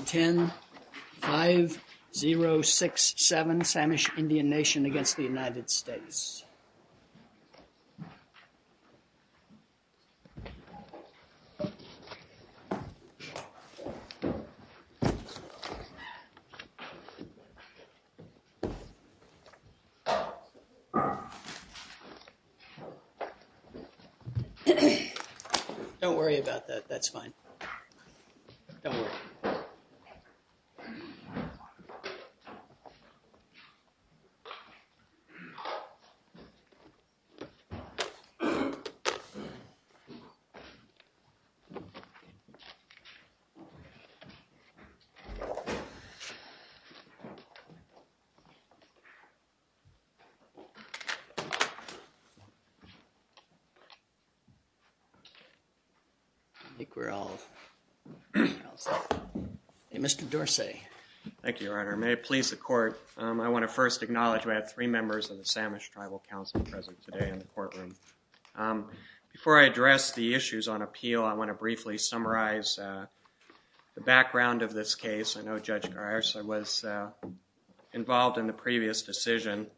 10-5-0-6-7, Samish Indian Nation against the United States. Don't worry about that. That's fine. Don't worry. Mr. Dorsey. Thank you, Your Honor. May it please the court, I want to first acknowledge we have three members of the Samish Tribal Council present today in the courtroom. Before I address the issues on appeal, I want to briefly summarize the background of this case. I know Judge Geisler was involved in the previous decision,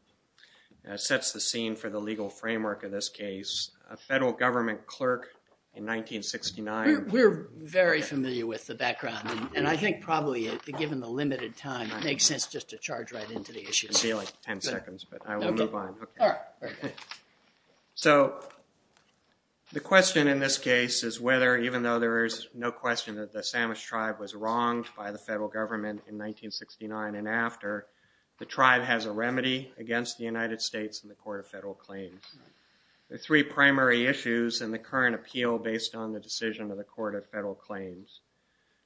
sets the scene for the legal framework of this case. A federal government clerk in 1969. We're very familiar with the background, and I think probably, given the limited time, it makes sense just to charge right into the court. So the question in this case is whether, even though there is no question that the Samish tribe was wronged by the federal government in 1969 and after, the tribe has a remedy against the United States and the Court of Federal Claims. There are three primary issues in the current appeal based on the decision of the Court of Federal Claims.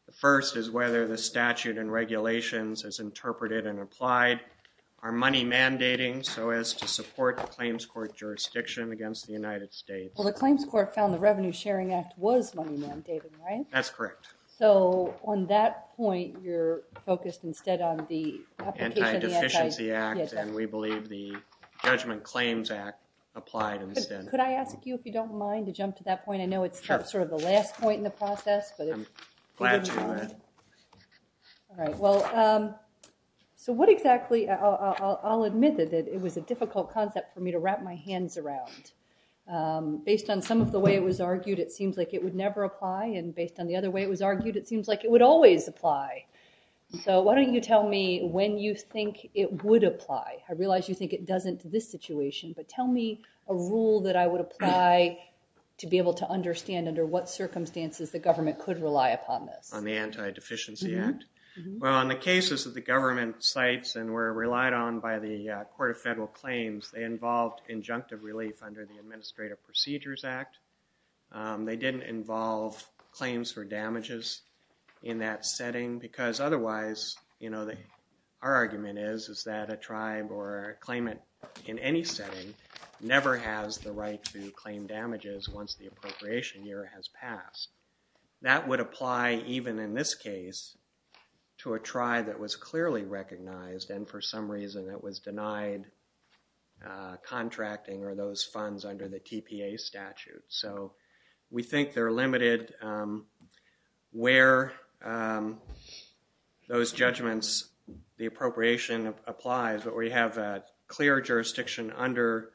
The first is whether the statute and regulations as interpreted and applied are money mandating so as to support the claims court jurisdiction against the United States. Well, the claims court found the Revenue Sharing Act was money mandating, right? That's correct. So on that point, you're focused instead on the Anti-Deficiency Act, and we believe the Judgment Claims Act applied instead. Could I ask you, if you don't mind, to jump to that point? I know it's sort of the last point in the process. I'm glad to do that. Well, so what exactly, I'll admit that it was a difficult concept for me to wrap my hands around. Based on some of the way it was argued, it seems like it would never apply, and based on the other way it was argued, it seems like it would always apply. So why don't you tell me when you think it would apply? I realize you think it doesn't in this situation, but tell me a rule that I would apply to be able to understand under what circumstances the government could rely upon this. On the Anti-Deficiency Act? Well, in the cases that the government cites and were relied on by the Court of Federal Claims, they involved injunctive relief under the Administrative Procedures Act. They didn't involve claims for damages in that setting because otherwise, you know, our argument is that a tribe or a claimant in any setting never has the right to claim damages once the appropriation year has passed. That would apply even in this case to a tribe that was clearly recognized and for some reason that was denied contracting or those funds under the TPA statute. So we think they're limited where those judgments, the appropriation applies, but we have a clear jurisdiction under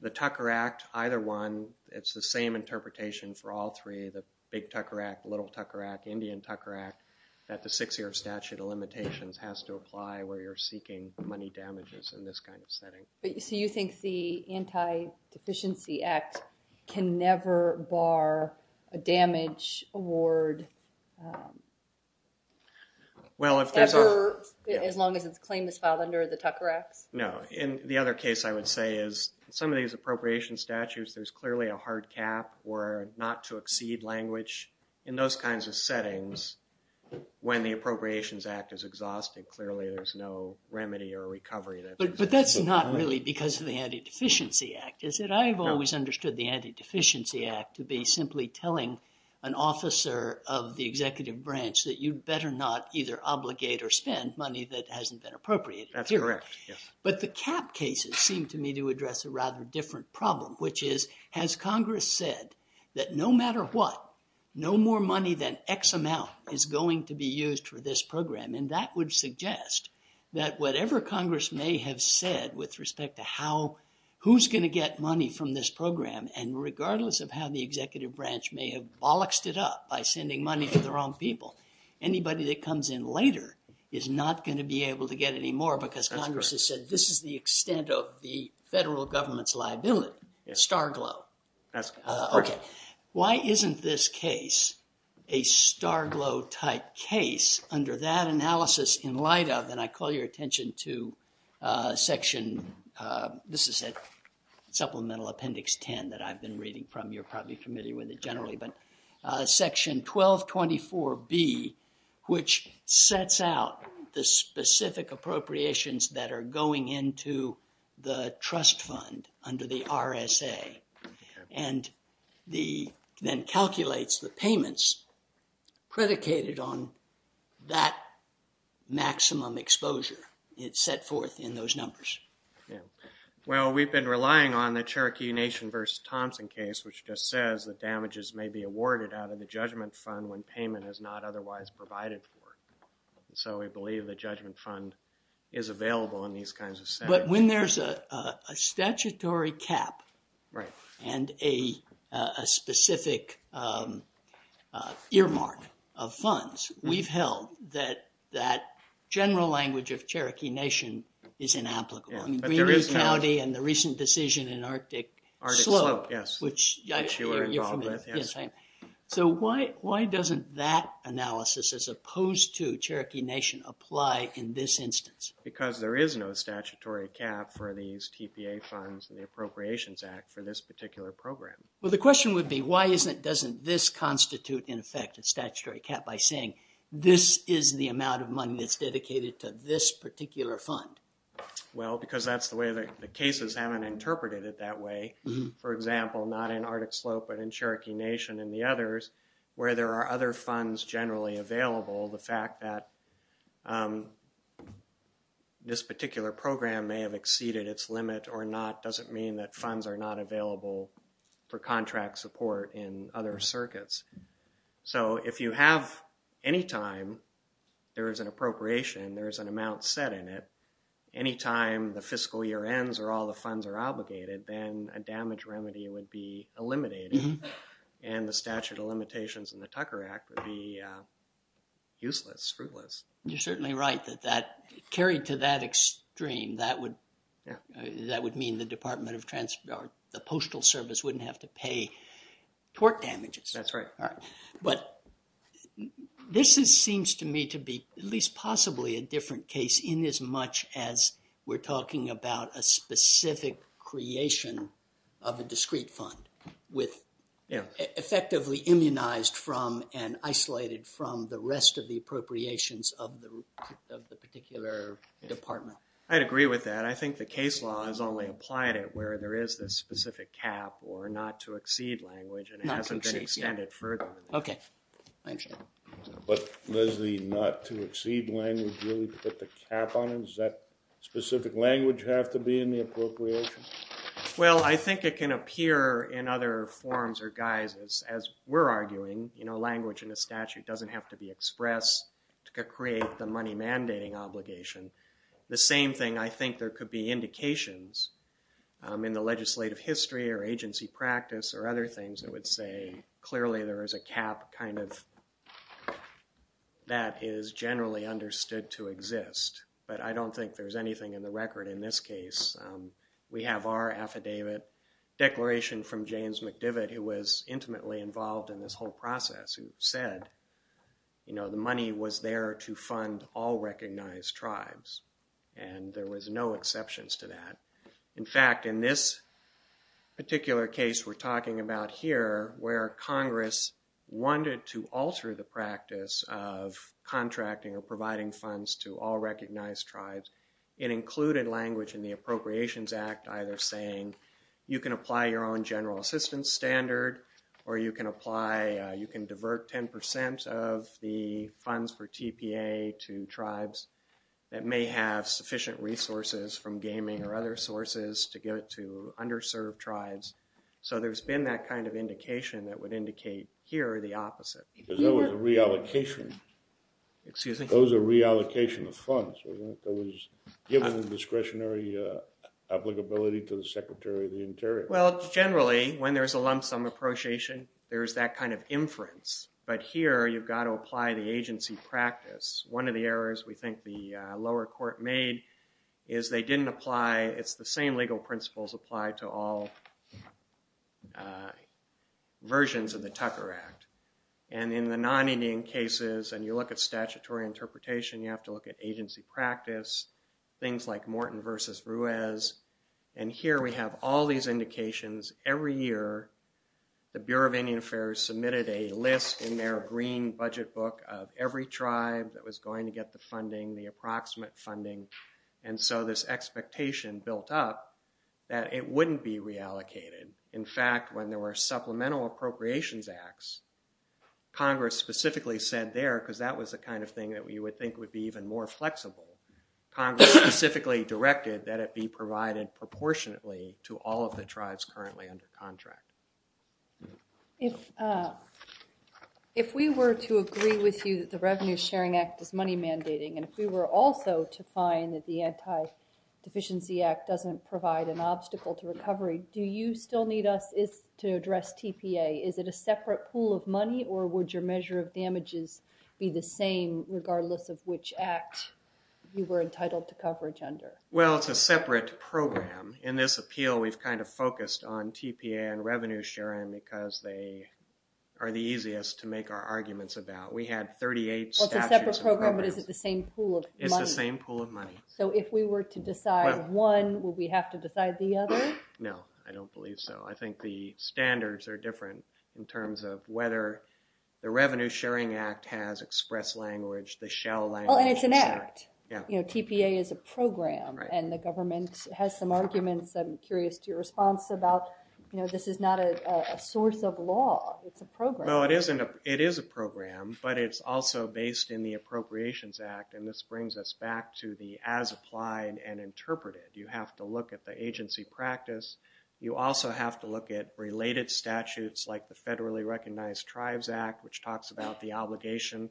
the Tucker Act, either one, it's the same interpretation for all three, the Big Tucker Act, Little Tucker Act, Indian Tucker Act, that the Six-Year Statute of Limitations has to apply where you're seeking money damages in this kind of setting. So you think the Anti-Deficiency Act can never bar a damage award ever, as long as its claim is filed under the Tucker Act? No. In the other case, I would say is some of these appropriation statutes, there's clearly a hard cap or not to exceed language in those kinds of settings. When the Appropriations Act is exhausted, clearly there's no remedy or recovery there. But that's not really because of the Anti-Deficiency Act, is it? I've always understood the Anti-Deficiency Act to be simply telling an officer of the executive branch that you'd better not either obligate or spend money that hasn't been appropriated. That's correct, yes. But the cap cases seem to me to address a rather different problem, which is, has Congress said that no matter what, no more money than X amount is going to be used for this program? And that would suggest that whatever Congress may have said with respect to how, who's going to get money from this program, and regardless of how the executive branch may have bolloxed it up by sending money to the wrong people, anybody that comes in later is not going to be able to get any more because Congress has said this is the extent of the federal government's liability, starglow. Okay, why isn't this case a starglow type case under that analysis in light of, and I call your attention to section, this is a supplemental appendix 10 that I've been reading from, you're probably familiar with it generally, but section 1224B, which sets out the specific appropriations that are going into the trust fund under the RSA and then calculates the payments predicated on that maximum exposure it set forth in those numbers. Yeah, well we've been relying on the Cherokee Nation versus Thompson case, which just says that damages may be awarded out of the judgment fund when payment is not otherwise provided for. So we believe the judgment fund is available in these kinds of settings. But when there's a statutory cap and a specific earmark of funds, we've held that that general language of Cherokee Nation is inapplicable. I mean, Greenview County and the decision in Arctic Slope, which you're familiar with. So why doesn't that analysis, as opposed to Cherokee Nation, apply in this instance? Because there is no statutory cap for these TPA funds and the Appropriations Act for this particular program. Well the question would be, why doesn't this constitute, in effect, a statutory cap by saying this is the amount of money that's dedicated to this particular fund? Well, because that's the way the cases haven't interpreted it that way. For example, not in Arctic Slope, but in Cherokee Nation and the others, where there are other funds generally available, the fact that this particular program may have exceeded its limit or not doesn't mean that funds are not available for contract support in other circuits. So if you have, anytime, there is an appropriation, there is an amount set in it, anytime the fiscal year ends or all the funds are obligated, then a damage remedy would be eliminated and the statute of limitations in the Tucker Act would be useless, fruitless. You're certainly right that carried to that extreme, that would that would mean the Department of Transport, the Postal Service, wouldn't have to pay torque damages. That's right. All right, but this is seems to me to be at least possibly a different case in as much as we're talking about a specific creation of a discrete fund with effectively immunized from and isolated from the rest of the appropriations of the of the particular department. I'd agree with that. I think the case law has only applied it where there is this specific cap or not to exceed language and it hasn't been extended further. Okay. But does the not to exceed language really put the cap on it? Does that specific language have to be in the appropriation? Well, I think it can appear in other forms or guises as we're arguing, you know, language in the statute doesn't have to be expressed to create the money mandating obligation. The same thing I think there could be indications in the legislative history or agency practice or other things that would say clearly there is a cap kind of that is generally understood to exist. But I don't think there's anything in the record in this case. We have our affidavit declaration from James McDivitt who was intimately involved in this whole process who said, you know, the money was there to fund all recognized tribes and there was no exceptions to that. In fact, in this particular case we're talking about here where Congress wanted to alter the practice of contracting or providing funds to all recognized tribes it included language in the Appropriations Act either saying you can apply your own general assistance standard or you can apply, you can divert 10 percent of the funds for TPA to tribes that may have sufficient resources from gaming or other sources to get to underserved tribes. So there's been that kind of indication that would indicate here the opposite. Because that was a reallocation. Excuse me? Those are reallocation of funds, wasn't it? That was given the discretionary obligability to the Secretary of the Interior. Well, generally when there's a lump sum appropriation there's that kind of inference. But here you've got to apply the agency practice. One of the errors we think the lower court made is they didn't apply, it's the same legal principles apply to all versions of the Tucker Act. And in the non-Indian cases and you look at statutory interpretation you have to look at agency practice, things like Morton versus Ruiz. And here we have all these indications every year the Bureau of Indian Affairs submitted a list in their green budget book of every tribe that was going to get the funding, the approximate funding. And so this expectation built up that it wouldn't be reallocated. In fact, when there were supplemental appropriations acts, Congress specifically said there, because that was the kind of thing that we would think would be even more flexible, Congress specifically directed that it be provided proportionately to all of the tribes currently under contract. If we were to agree with you that the Revenue Sharing Act is money mandating and if we were also to find that the Anti-Deficiency Act doesn't provide an obstacle to recovery, do you still need us to address TPA? Is it a separate pool of money or would your measure of damages be the same regardless of which act you were entitled to coverage under? Well, it's a separate program. In this appeal we've kind of focused on TPA and revenue sharing because they are the easiest to make our arguments about. We had 38 statutes. It's a separate program but is it the same pool of money? It's the same pool of money. So if we were to decide one, would we have to decide the other? No, I don't believe so. I think the standards are different in terms of whether the Revenue Sharing Act has express language, the shell language. Oh, and it's an act. You know, TPA is a program and the government has some arguments. I'm curious to your response about, you know, this is not a source of law. It's a program. No, it is a program but it's also based in the Appropriations Act and this brings us back to as applied and interpreted. You have to look at the agency practice. You also have to look at related statutes like the Federally Recognized Tribes Act which talks about the obligation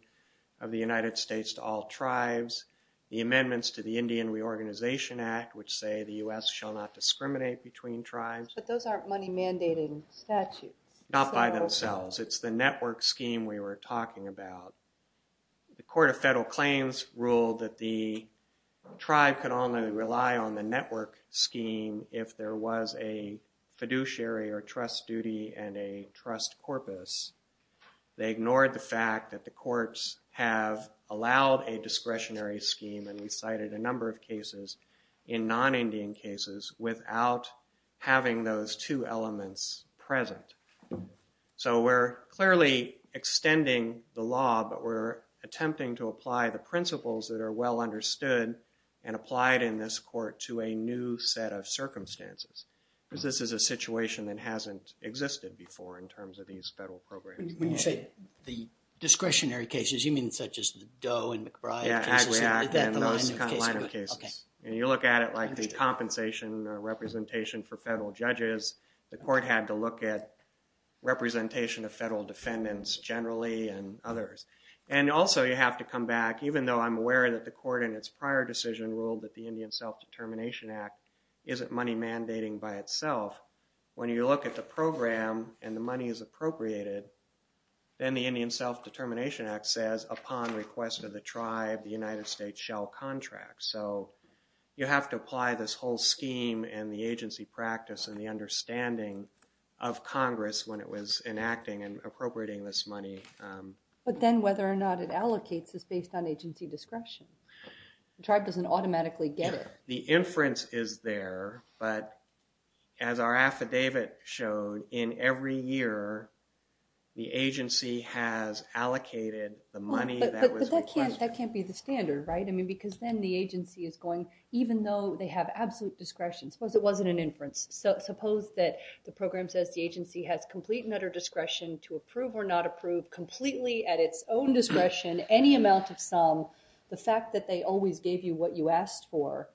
of the United States to all tribes. The amendments to the Indian Reorganization Act which say the U.S. shall not discriminate between tribes. But those aren't money mandating statutes. Not by themselves. It's the network scheme we were talking about. The Court of Federal Claims ruled that the tribe could only rely on the network scheme if there was a fiduciary or trust duty and a trust corpus. They ignored the fact that the courts have allowed a discretionary scheme and we cited a number of cases in non-Indian cases without having those two elements present. So we're clearly extending the law but we're attempting to apply the principles that are well understood and applied in this court to a new set of circumstances because this is a situation that hasn't existed before in terms of these federal programs. When you say the discretionary cases, you mean such as the Doe and McBride? Yeah, Agri Act and those kind of line of cases. And you look at it like the compensation representation for federal judges. The court had to look at representation of federal defendants generally and others. And also you have to come back, even though I'm aware that the court in its prior decision ruled that the Indian Self-Determination Act isn't money mandating by itself. When you look at the program and the money is appropriated, then the Indian Self-Determination Act says upon request of the tribe, the United States shall contract. So you have to apply this whole scheme and the agency practice and the understanding of Congress when it was enacting and appropriating this money. But then whether or not it allocates is based on agency discretion. The tribe doesn't automatically get it. The inference is there, but as our affidavit showed, in every year the agency has allocated the money that was requested. That can't be the standard, right? Because then the agency is going, even though they have absolute discretion. Suppose it wasn't an inference. Suppose that the program says the agency has complete and utter discretion to approve or not approve completely at its own discretion any amount of sum. The fact that they always gave you what you asked for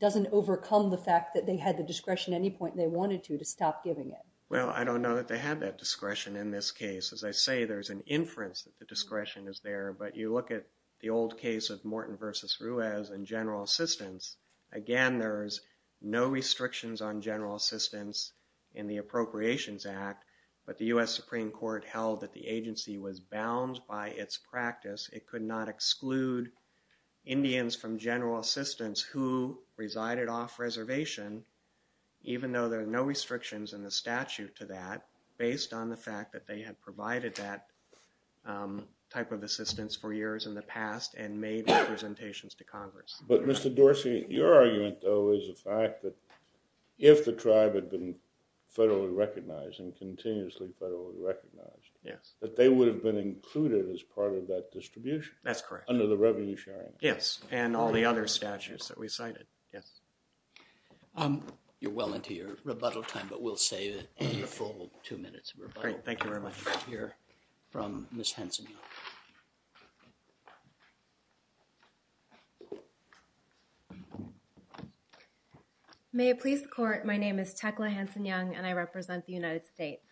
doesn't overcome the fact that they had the discretion at any point they wanted to to stop giving it. Well, I don't know that they had that discretion in this case. As I say, there's an inference that the discretion is there. But you look at the old case of Morton versus Ruiz and general assistance. Again, there's no restrictions on general assistance in the Appropriations Act. But the US Supreme Court held that the agency was bound by its practice. It could not exclude Indians from general assistance who resided off reservation, even though there are no restrictions in the statute to that based on the fact that they had provided that type of assistance for years in the past and made representations to Congress. But Mr. Dorsey, your argument, though, is the fact that if the tribe had been federally recognized and continuously federally recognized, that they would have been included as part of that distribution. That's correct. Under the revenue sharing. Yes. And all the other statutes that we cited. Yes. You're well into your rebuttal time, but we'll save it for the full two minutes of rebuttal. Thank you very much to hear from Ms. Hanson. May it please the court. My name is Tecla Hanson Young, and I represent the United States.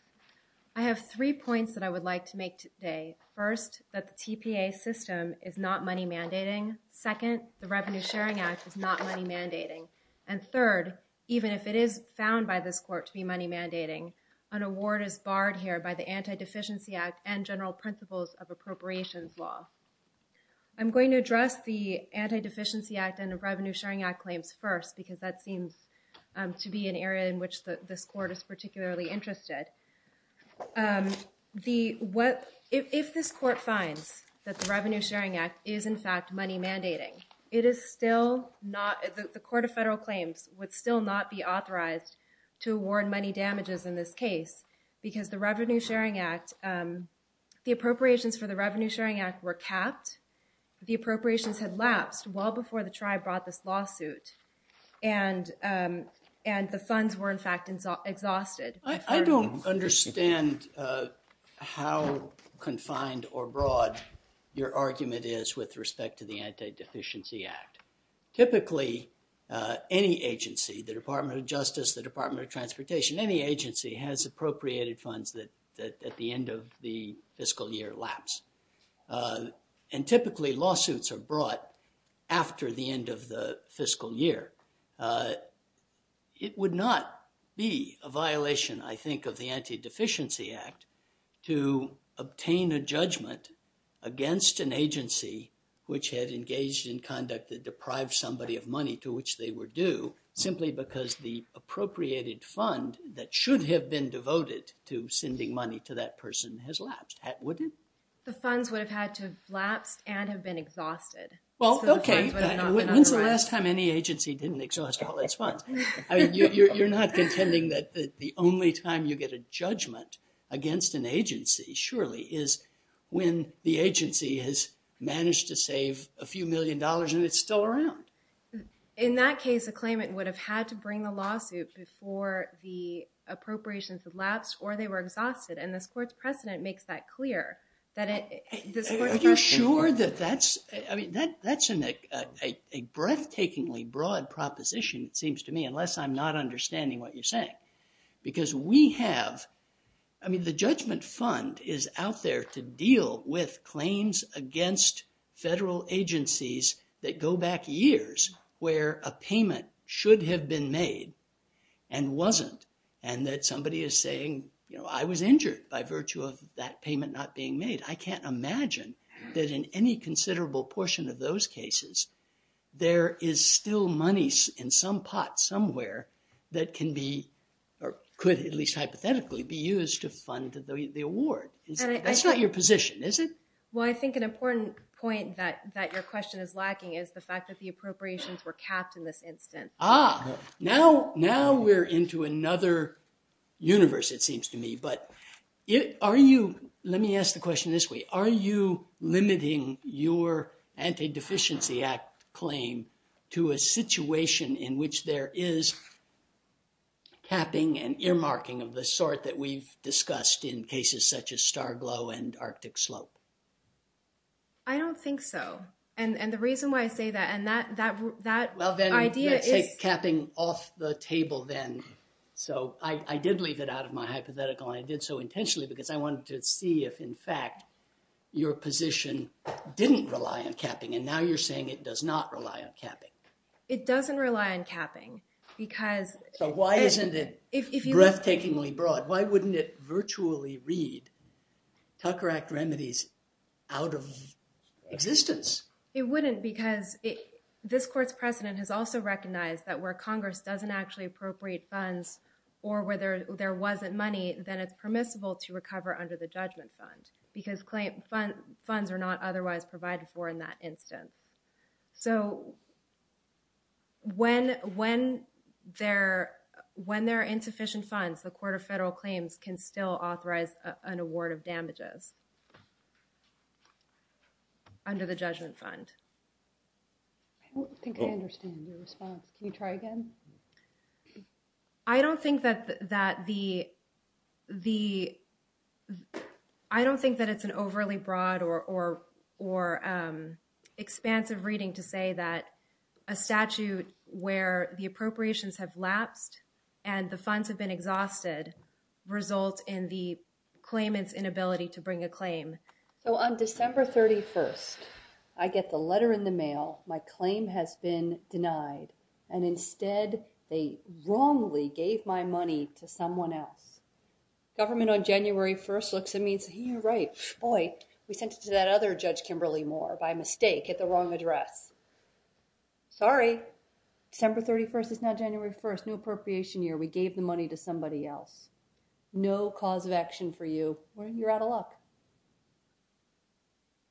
I have three points that I would like to make today. First, that the TPA system is not money mandating. Second, the Revenue Sharing Act is not money mandating. And third, even if it is found by this court to be money mandating, an award is barred here by the Anti-Deficiency Act and general principles of appropriations law. I'm going to address the Anti-Deficiency Act and the Revenue Sharing Act claims first, because that seems to be an area in which this court is particularly interested. If this court finds that the Revenue Sharing Act is, in fact, money mandating, the Court of Federal Claims would still not be authorized to award money damages in this case, because the Revenue Sharing Act, the appropriations for the Revenue Sharing Act were capped. The appropriations had lapsed well before the tribe brought this lawsuit, and the funds were, in fact, exhausted. I don't understand how confined or broad your argument is with respect to the Anti-Deficiency Act. Typically, any agency, the Department of Justice, the Department of Transportation, any agency has appropriated funds that at the end of the fiscal year lapse. And typically, lawsuits are brought after the end of the fiscal year. It would not be a violation, I think, of the Anti-Deficiency Act to obtain a judgment against an agency which had engaged in conduct that deprived somebody of money to which they were due, simply because the appropriated fund that should have been devoted to sending money to that person has lapsed, wouldn't it? The funds would have had to have lapsed and have been exhausted. Well, okay, when's the last time any agency didn't exhaust all its funds? You're not contending that the only time you get a judgment against an agency, surely, is when the agency has managed to save a few million dollars and it's still around. In that case, a claimant would have had to bring the lawsuit before the appropriations had lapsed or they were exhausted. And this court's precedent makes that clear. Are you sure that that's, I mean, that's a breathtakingly broad proposition, it seems to me, unless I'm not understanding what you're saying. Because we have, I mean, the judgment fund is out there to deal with claims against federal agencies that go back years where a payment should have been made and wasn't. And that somebody is saying, you know, I was injured by virtue of that payment not being made. I can't imagine that in any considerable portion of those cases, there is still money in some pot somewhere that can be, or could at least hypothetically be used to fund the award. That's not your position, is it? Well, I think an important point that your question is lacking is the fact that the appropriations were capped in this instance. Ah, now we're into another universe, it seems to me. But are you, let me ask the question this way, are you limiting your Anti-Deficiency Act claim to a situation in which there is capping and earmarking of the sort that we've discussed in cases such as Star Glow and Arctic Slope? I don't think so. And the reason why I say that, and that idea is- Well, then you take capping off the table then. So I did leave it out of my hypothetical, and I did so intentionally because I wanted to see if, in fact, your position didn't rely on capping. And now you're saying it does not rely on capping. It doesn't rely on capping because- So why isn't it breathtakingly broad? Why wouldn't it virtually read Tucker Act remedies out of existence? It wouldn't because this court's precedent has also recognized that where Congress doesn't actually appropriate funds or where there wasn't money, then it's permissible to recover under the judgment fund because funds are not otherwise provided for in that instance. So when there are insufficient funds, the Court of Federal Claims can still authorize an award of damages under the judgment fund. I don't think I understand your response. Can you try again? I don't think that it's an overly broad or expansive reading to say that a statute where the appropriations have lapsed and the funds have been exhausted results in the claimant's inability to bring a claim. So on December 31st, I get the letter in the mail, my claim has been denied, and instead they wrongly gave my money to someone else. Government on January 1st looks at me and says, you're right, boy, we sent it to that other Judge Kimberly Moore by mistake at the wrong address. Sorry, December 31st is now January 1st, new appropriation year. We gave the money to somebody else. No cause of action for you. You're out of luck.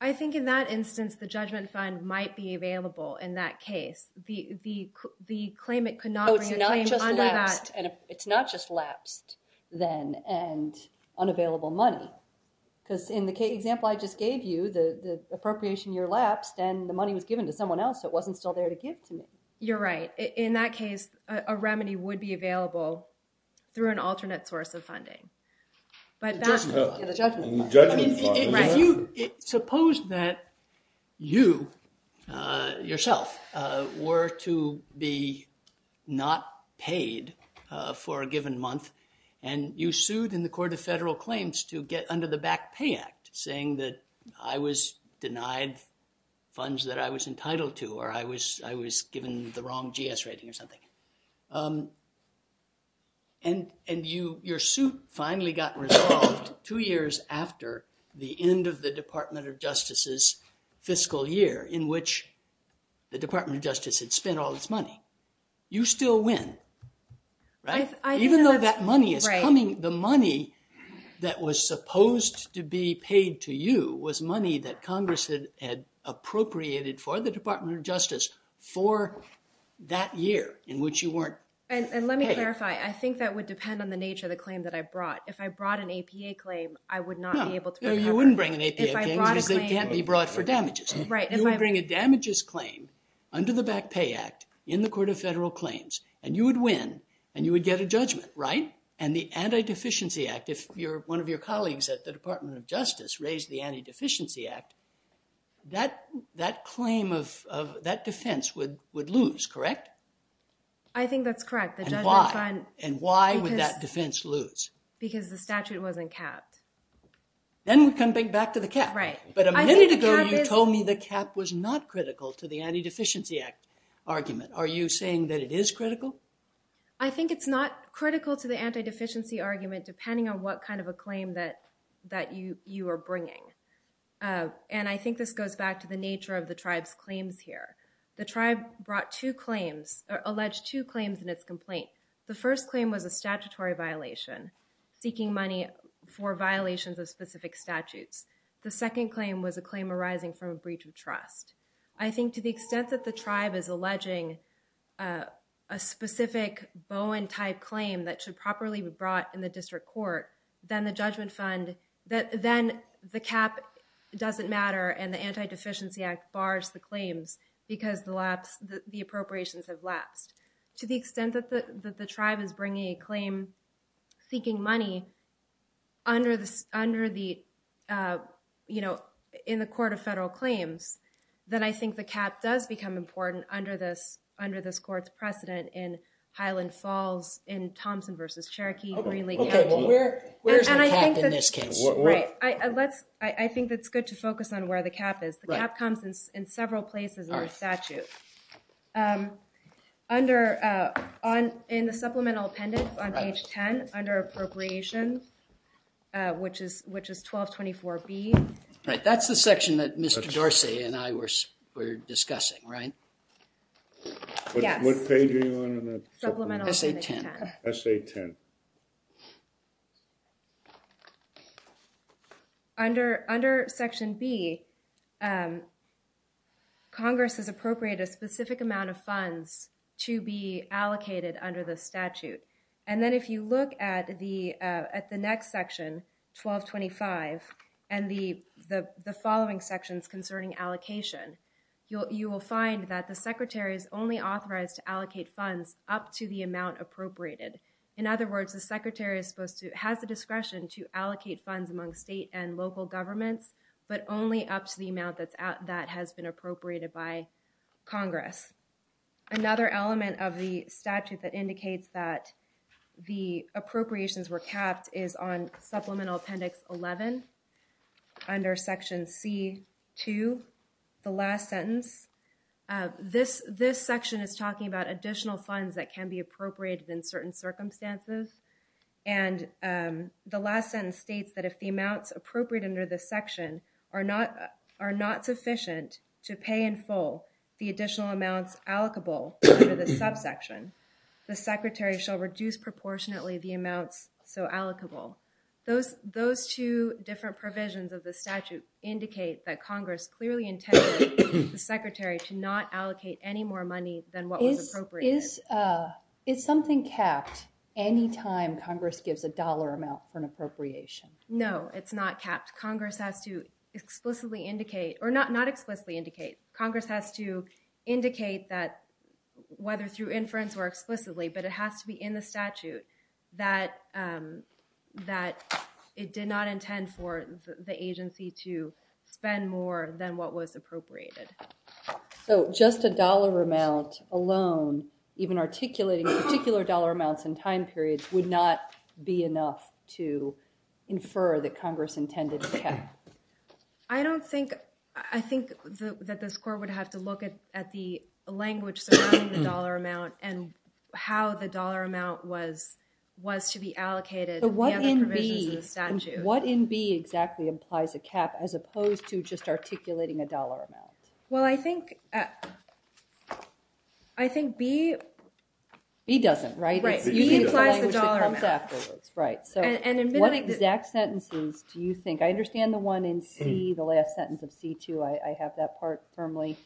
I think in that instance, the judgment fund might be available in that case. The claimant could not bring a claim under that. It's not just lapsed then and unavailable money. Because in the example I just gave you, the appropriation year lapsed and the money was given to someone else, so it wasn't still there to give to me. You're right. In that case, a remedy would be available through an alternate source of funding. The judgment fund. Suppose that you, yourself, were to be not paid for a given month and you sued in the Court of Federal Claims to get under the Back Pay Act, saying that I was denied funds that I was entitled to or I was given the wrong GS rating or something. And your suit finally got resolved two years after the end of the Department of Justice's fiscal year, in which the Department of Justice had spent all its money. You still win. Even though that money is coming, the money that was supposed to be paid to you was money that Congress had appropriated for the Department of Justice for that year, in which you weren't paid. And let me clarify. I think that would depend on the nature of the claim that I brought. If I brought an APA claim, I would not be able to recover. No, you wouldn't bring an APA claim because it can't be brought for damages. Right. You would bring a damages claim under the Back Pay Act in the Court of Federal Claims, and you would win, and you would get a judgment, right? And the Anti-Deficiency Act, if one of your colleagues at the Department of Justice raised the Anti-Deficiency Act, that claim of that defense would lose, correct? I think that's correct. And why? And why would that defense lose? Because the statute wasn't capped. Then we come back to the cap. Right. But a minute ago, you told me the cap was not critical to the Anti-Deficiency Act argument. Are you saying that it is critical? I think it's not critical to the Anti-Deficiency argument, depending on what kind of a claim that you are bringing. And I think this goes back to the nature of the tribe's claims here. The tribe brought two claims, or alleged two claims in its complaint. The first claim was a statutory violation, seeking money for violations of specific statutes. The second claim was a claim arising from a breach of trust. I think to the extent that the tribe is alleging a specific Bowen-type claim that should properly be brought in the district court, then the judgment fund, then the cap doesn't matter, and the Anti-Deficiency Act bars the claims because the appropriations have lapsed. To the extent that the tribe is bringing a claim seeking money in the court of federal claims, then I think the cap does become important under this court's precedent in Highland Falls, in Thompson v. Cherokee, Green Lake County. OK. Well, where's the cap in this case? Right. I think that's good to focus on where the cap is. The cap comes in several places in the statute. In the supplemental appendix on page 10, under appropriations, which is 1224B. Right. That's the section that Mr. Dorsey and I were discussing, right? Yes. What page are you on in the supplemental appendix 10? Essay 10. Under section B, Congress has appropriated a specific amount of funds to be allocated under the statute. And then if you look at the next section, 1225, and the following sections concerning allocation, you will find that the secretary is only authorized to allocate funds up to the amount appropriated. In other words, the secretary has the discretion to allocate funds among state and local governments, but only up to the amount that has been appropriated by Congress. Another element of the statute that indicates that the appropriations were capped is on supplemental appendix 11, under section C2, the last sentence. This section is talking about additional funds that can be appropriated in certain circumstances. And the last sentence states that if the amounts appropriate under this section are not sufficient to pay in full the additional amounts allocable under the subsection, the secretary shall reduce proportionately the amounts so allocable. Those two different provisions of the statute indicate that Congress clearly intended the secretary to not allocate any more money than what was appropriated. Is something capped anytime Congress gives a dollar amount for an appropriation? No, it's not capped. Congress has to explicitly indicate, or not explicitly indicate. Congress has to indicate that, whether through inference or explicitly, but it has to be in the statute that it did not intend for the agency to appropriate it. So just a dollar amount alone, even articulating particular dollar amounts in time periods, would not be enough to infer that Congress intended to cap? I don't think, I think that this court would have to look at the language surrounding the dollar amount and how the dollar amount was to be allocated in the other provisions of the statute. What in B exactly implies a cap as opposed to just articulating a dollar amount? Well, I think, I think B. B doesn't, right? B implies the dollar amount. Right, so what exact sentences do you think, I understand the one in C, the last sentence of C2, I have that part firmly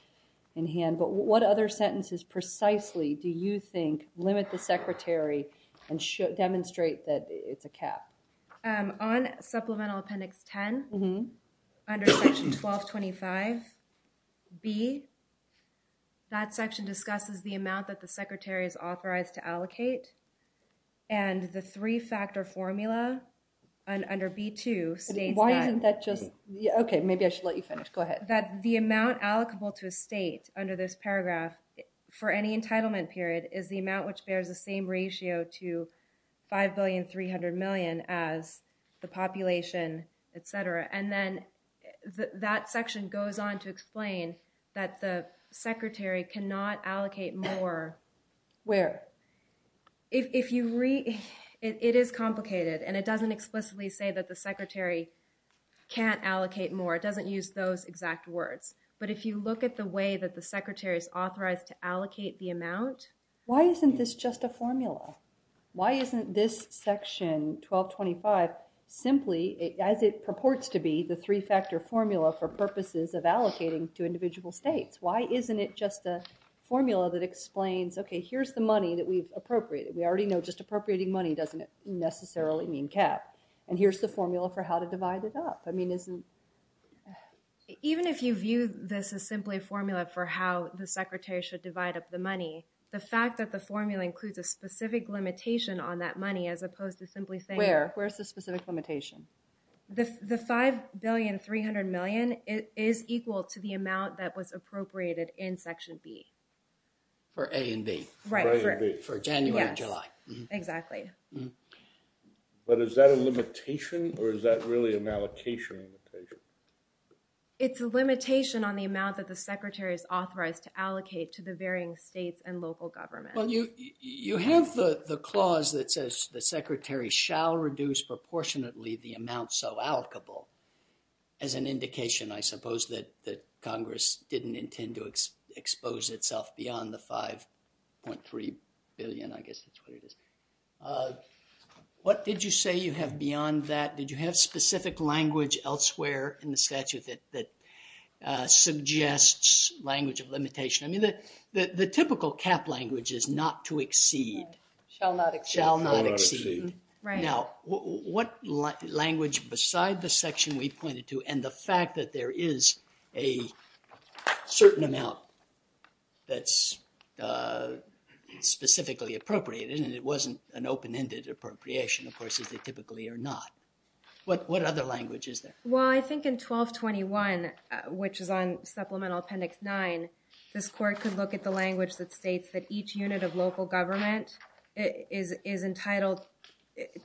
in hand, but what other sentences precisely do you think limit the secretary and demonstrate that it's a cap? On supplemental appendix 10, under section 1225 B, that section discusses the amount that the secretary is authorized to allocate and the three-factor formula under B2 states that. Why isn't that just, okay, maybe I should let you finish, go ahead. That the amount allocable to a state under this paragraph for any entitlement period is the amount which bears the same ratio to 5,300,000,000 as the population, etc. And then that section goes on to explain that the secretary cannot allocate more. Where? If you read, it is complicated and it doesn't explicitly say that the secretary can't allocate more, it doesn't use those exact words. But if you look at the way that the secretary is authorized to allocate the amount, why isn't this just a formula? Why isn't this section 1225 simply, as it purports to be, the three-factor formula for purposes of allocating to individual states? Why isn't it just a formula that explains, okay, here's the money that we've appropriated. We already know just appropriating money doesn't necessarily mean cap. And here's the formula for how to divide it up. I mean, isn't... Even if you view this as simply a formula for how the secretary should divide up the money, the fact that the formula includes a specific limitation on that money, as opposed to simply saying... Where? Where's the specific limitation? The 5,300,000,000 is equal to the amount that was appropriated in section B. For A and B. Right. For January and July. Exactly. But is that a limitation or is that really an allocation limitation? It's a limitation on the amount that the secretary is authorized to allocate to the varying states and local governments. Well, you have the clause that says the secretary shall reduce proportionately the amount so allocable as an indication, I suppose, that Congress didn't intend to expose itself beyond the 5.3 billion. I guess that's what it is. What did you say you have beyond that? Did you have specific language elsewhere in the statute that suggests language of limitation? The typical cap language is not to exceed. Shall not exceed. Shall not exceed. Now, what language beside the section we pointed to and the fact that there is a certain amount that's specifically appropriated and it wasn't an open-ended appropriation, of course, as they typically are not. What other language is there? Well, I think in 1221, which is on supplemental appendix nine, this court could look at the language that states that each unit of local government is entitled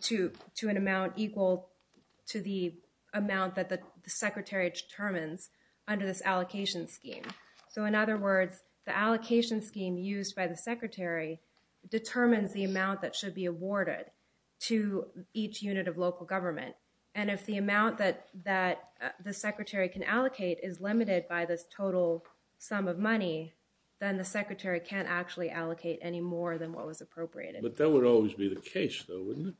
to an amount equal to the amount that the secretary determines under this allocation scheme. So in other words, the allocation scheme used by the secretary determines the amount that should be awarded to each unit of local government. And if the amount that the secretary can allocate is limited by this total sum of money, then the secretary can't actually allocate any more than what was appropriated. But that would always be the case, though, wouldn't it?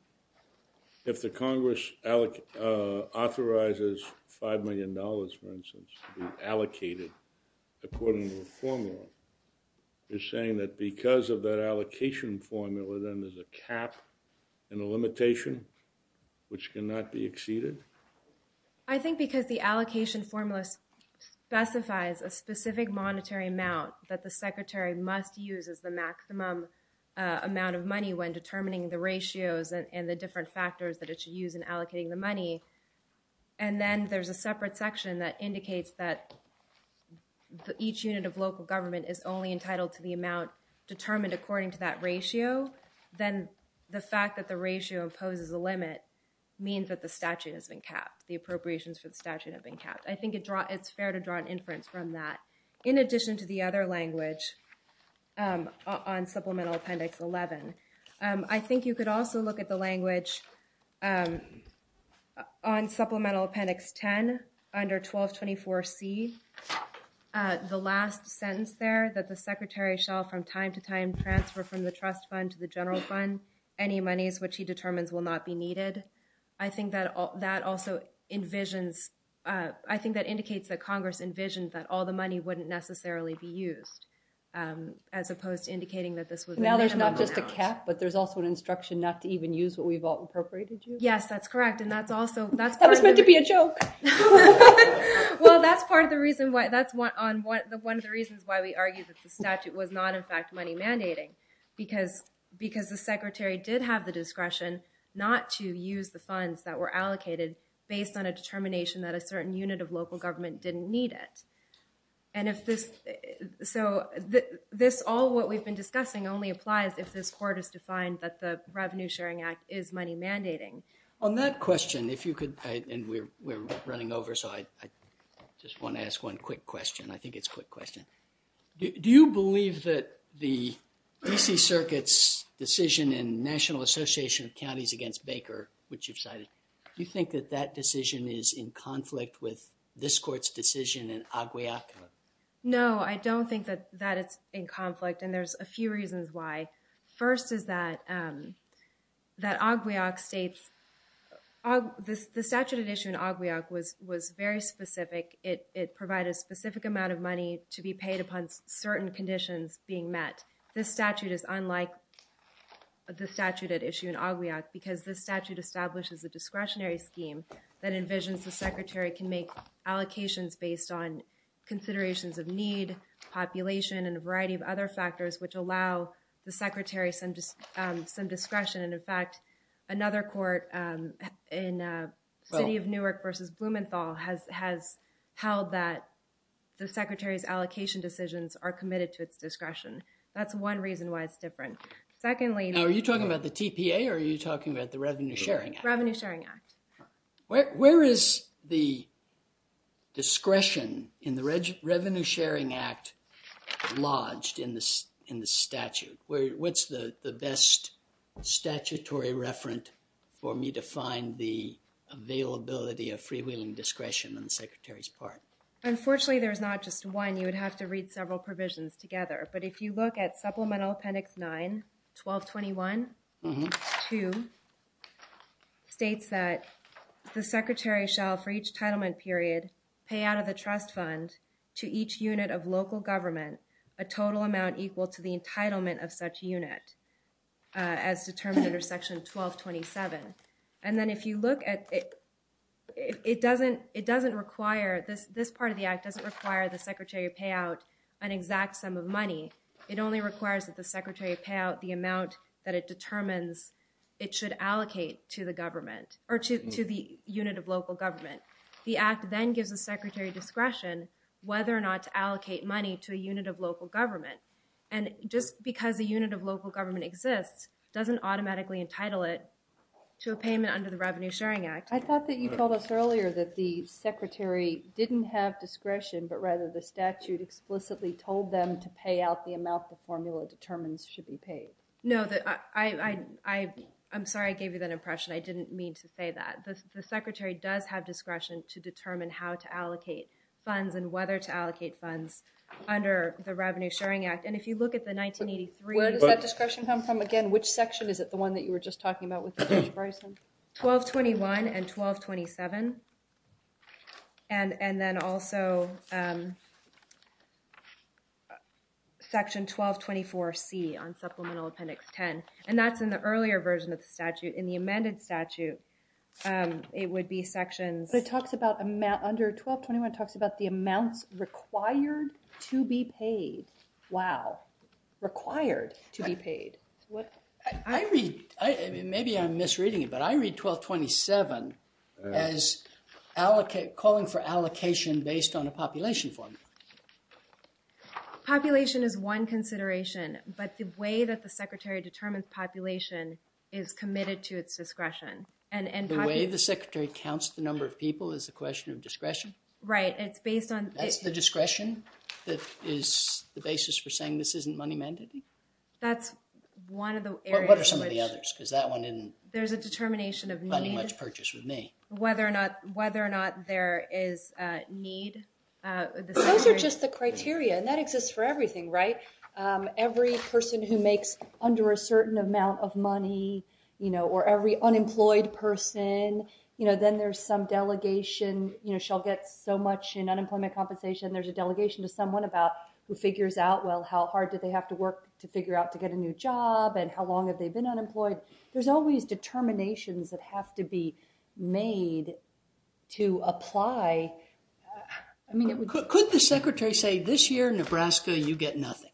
If the Congress authorizes five million dollars, for instance, to be allocated according to a formula, you're saying that because of that allocation formula, then there's a cap and a limitation which cannot be exceeded? I think because the allocation formula specifies a specific monetary amount that the secretary must use as the maximum amount of money when determining the ratios and the different factors that it should use in allocating the money. And then there's a separate section that indicates that each unit of local government is only entitled to the amount determined according to that ratio. Then the fact that the ratio imposes a limit means that the statute has been capped. The appropriations for the statute have been capped. I think it's fair to draw an inference from that. In addition to the other language on Supplemental Appendix 11, I think you could also look at the language on Supplemental Appendix 10 under 1224C. The last sentence there that the secretary shall from time to time transfer from the trust fund to the general fund, any monies which he determines will not be needed, I think that also envisions, I think that indicates that Congress envisioned that all the money wouldn't necessarily be used as opposed to indicating that this was a minimum amount. Now there's not just a cap, but there's also an instruction not to even use what we've all appropriated you? Yes, that's correct. And that's also, that's part of the reason why, that's one of the reasons why we argued that statute was not in fact money mandating, because the secretary did have the discretion not to use the funds that were allocated based on a determination that a certain unit of local government didn't need it. And if this, so this all what we've been discussing only applies if this court is defined that the Revenue Sharing Act is money mandating. On that question, if you could, and we're running over, so I just want to ask one quick question. I think it's a quick question. Do you believe that the D.C. Circuit's decision in National Association of Counties against Baker, which you've cited, do you think that that decision is in conflict with this court's decision in Agwiak? No, I don't think that it's in conflict, and there's a few reasons why. First is that Agwiak states, the statute at issue in Agwiak was very specific. It provided a specific amount of money to be paid upon certain conditions being met. This statute is unlike the statute at issue in Agwiak because this statute establishes a discretionary scheme that envisions the secretary can make allocations based on considerations of need, population, and a variety of other factors which allow the secretary some discretion. In fact, another court in the city of Newark versus Blumenthal has held that the secretary's allocation decisions are committed to its discretion. That's one reason why it's different. Are you talking about the TPA or are you talking about the Revenue Sharing Act? Revenue Sharing Act. Where is the discretion in the Revenue Sharing Act lodged in the statute? What's the best statutory referent for me to find the availability of freewheeling discretion on the secretary's part? Unfortunately, there's not just one. You would have to read several provisions together, but if you look at Supplemental Appendix 9, 1221-2, states that the secretary shall, for each entitlement period, pay out of the trust fund to each unit of local government a total amount equal to the unit of such unit as determined under Section 1227. And then if you look at it, it doesn't require, this part of the act doesn't require the secretary to pay out an exact sum of money. It only requires that the secretary pay out the amount that it determines it should allocate to the government or to the unit of local government. The act then gives the secretary discretion whether or not to allocate money to a unit of local government. And just because a unit of local government exists doesn't automatically entitle it to a payment under the Revenue Sharing Act. I thought that you told us earlier that the secretary didn't have discretion, but rather the statute explicitly told them to pay out the amount the formula determines should be paid. No, I'm sorry I gave you that impression. I didn't mean to say that. And if you look at the 1983... Where does that discretion come from? Again, which section is it? The one that you were just talking about with Judge Bryson? 1221 and 1227. And then also Section 1224C on Supplemental Appendix 10. And that's in the earlier version of the statute. In the amended statute, it would be sections... But it talks about amount, under 1221 it talks about the amounts required to be paid. Wow. Required to be paid. Maybe I'm misreading it, but I read 1227 as calling for allocation based on a population formula. Population is one consideration, but the way that the secretary determines population is committed to its discretion. The way the secretary counts the number of people is a question of discretion? Right, it's based on... That's the discretion that is the basis for saying this isn't money mandate? That's one of the areas which... What are some of the others? Because that one didn't... There's a determination of need... Not much purchase with me. Whether or not there is a need... Those are just the criteria, and that exists for everything, right? Every person who makes under a certain amount of money, or every unemployed person, then there's some delegation, she'll get so much in unemployment compensation, there's a delegation to someone about who figures out, well, how hard did they have to work to figure out to get a new job, and how long have they been unemployed? There's always determinations that have to be made to apply. Could the secretary say, this year, Nebraska, you get nothing?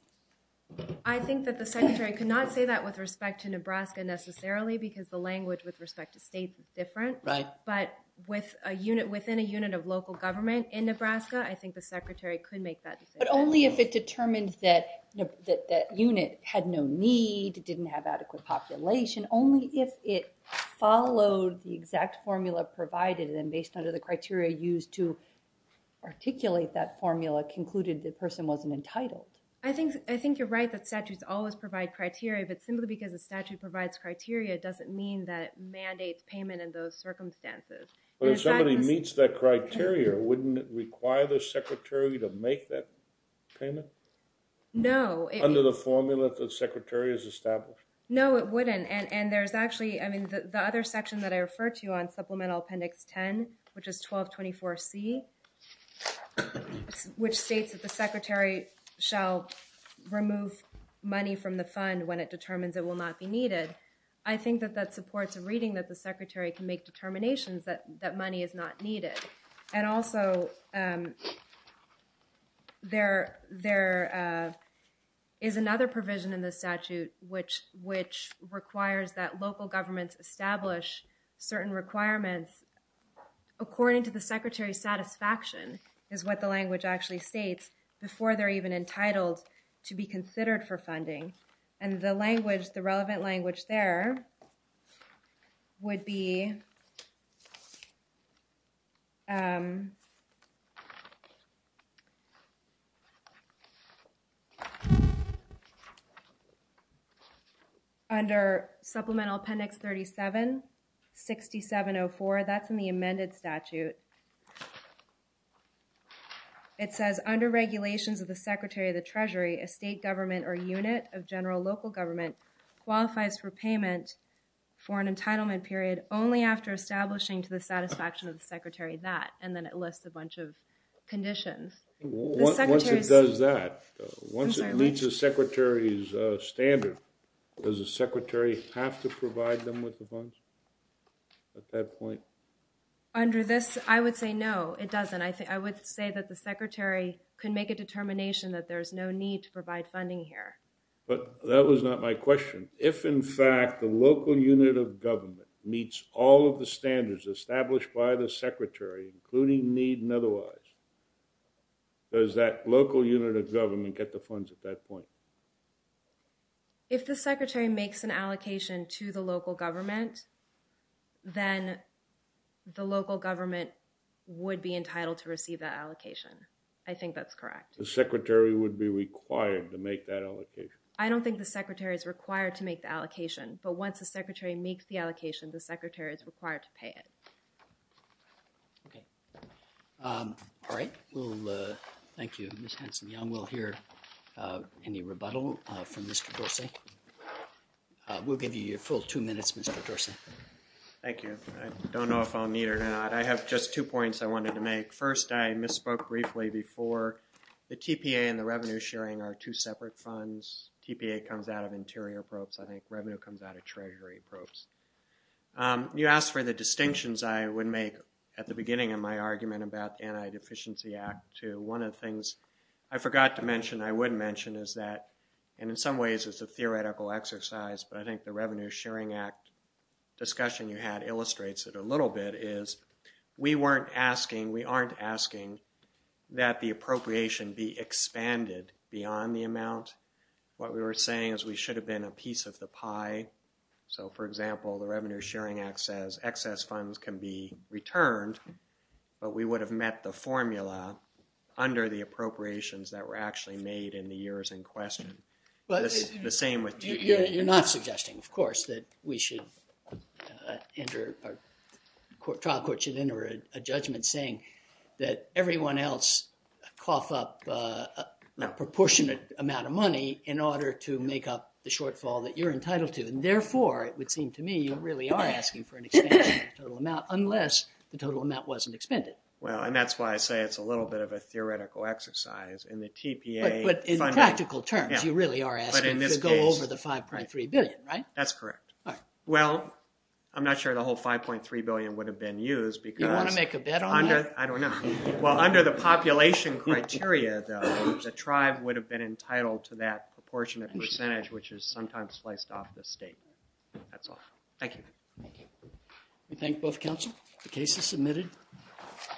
I think that the secretary could not say that with respect to Nebraska necessarily, because the language with respect to states is different. Right. But within a unit of local government in Nebraska, I think the secretary could make that decision. But only if it determined that unit had no need, it didn't have adequate population, only if it followed the exact formula provided, and based on the criteria used to articulate that formula, concluded the person wasn't entitled. I think you're right that statutes always provide criteria, but simply because a statute provides criteria doesn't mean that it mandates payment in those circumstances. But if somebody meets that criteria, wouldn't it require the secretary to make that payment? No. Under the formula that the secretary has established? No, it wouldn't. And there's actually, I mean, the other section that I referred to on Supplemental Appendix 10, which is 1224C, which states that the secretary shall remove money from the fund when it I think that that supports a reading that the secretary can make determinations that money is not needed. And also, there is another provision in the statute which requires that local governments establish certain requirements according to the secretary's satisfaction, is what the language actually states, before they're even entitled to be considered for funding. And the language, the relevant language there would be under Supplemental Appendix 37, 6704. That's in the amended statute. It says, under regulations of the Secretary of the Treasury, a state government or unit of general local government qualifies for payment for an entitlement period only after establishing to the satisfaction of the secretary that, and then it lists a bunch of conditions. Once it does that, once it meets the secretary's standard, does the secretary have to provide them with the funds at that point? Under this, I would say no, it doesn't. I think I would say that the secretary can make a determination that there's no need to provide funding here. But that was not my question. If, in fact, the local unit of government meets all of the standards established by the secretary, including need and otherwise, does that local unit of government get the funds at that point? If the secretary makes an allocation to the local government, then the local government would be entitled to receive that allocation. I think that's correct. The secretary would be required to make that allocation. I don't think the secretary is required to make the allocation. But once the secretary makes the allocation, the secretary is required to pay it. Okay. All right. Thank you, Ms. Henson-Young. We'll hear any rebuttal from Mr. Dorsey. We'll give you your full two minutes, Mr. Dorsey. Thank you. I don't know if I'll need it or not. I have just two points I wanted to make. First, I misspoke briefly before. The TPA and the revenue sharing are two separate funds. TPA comes out of interior probes. I think revenue comes out of treasury probes. You asked for the distinctions I would make at the beginning of my argument about the Anti-Deficiency Act, too. One of the things I forgot to mention I would mention is that, and in some ways it's a theoretical exercise, but I think the Revenue Sharing Act discussion you had illustrates it a little bit, is we weren't asking, we aren't asking that the appropriation be expanded beyond the amount. What we were saying is we should have been a piece of the pie. So, for example, the Revenue Sharing Act says excess funds can be returned, but we would have met the formula under the appropriations that were actually made in the years in question. The same with TPA. You're not suggesting, of course, that we should enter, trial court should enter a judgment saying that everyone else cough up a proportionate amount of money in order to make up the shortfall that you're entitled to. And therefore, it would seem to me, you really are asking for an expansion of the total amount unless the total amount wasn't expended. Well, and that's why I say it's a little bit of a theoretical exercise. In the TPA- But in practical terms, you really are asking to go over the $5.3 billion, right? That's correct. Well, I'm not sure the whole $5.3 billion would have been used because- You want to make a bet on that? I don't know. Well, under the population criteria, though, the tribe would have been entitled to that proportionate percentage, which is sometimes sliced off the state. That's all. Thank you. We thank both counsel. The case is submitted.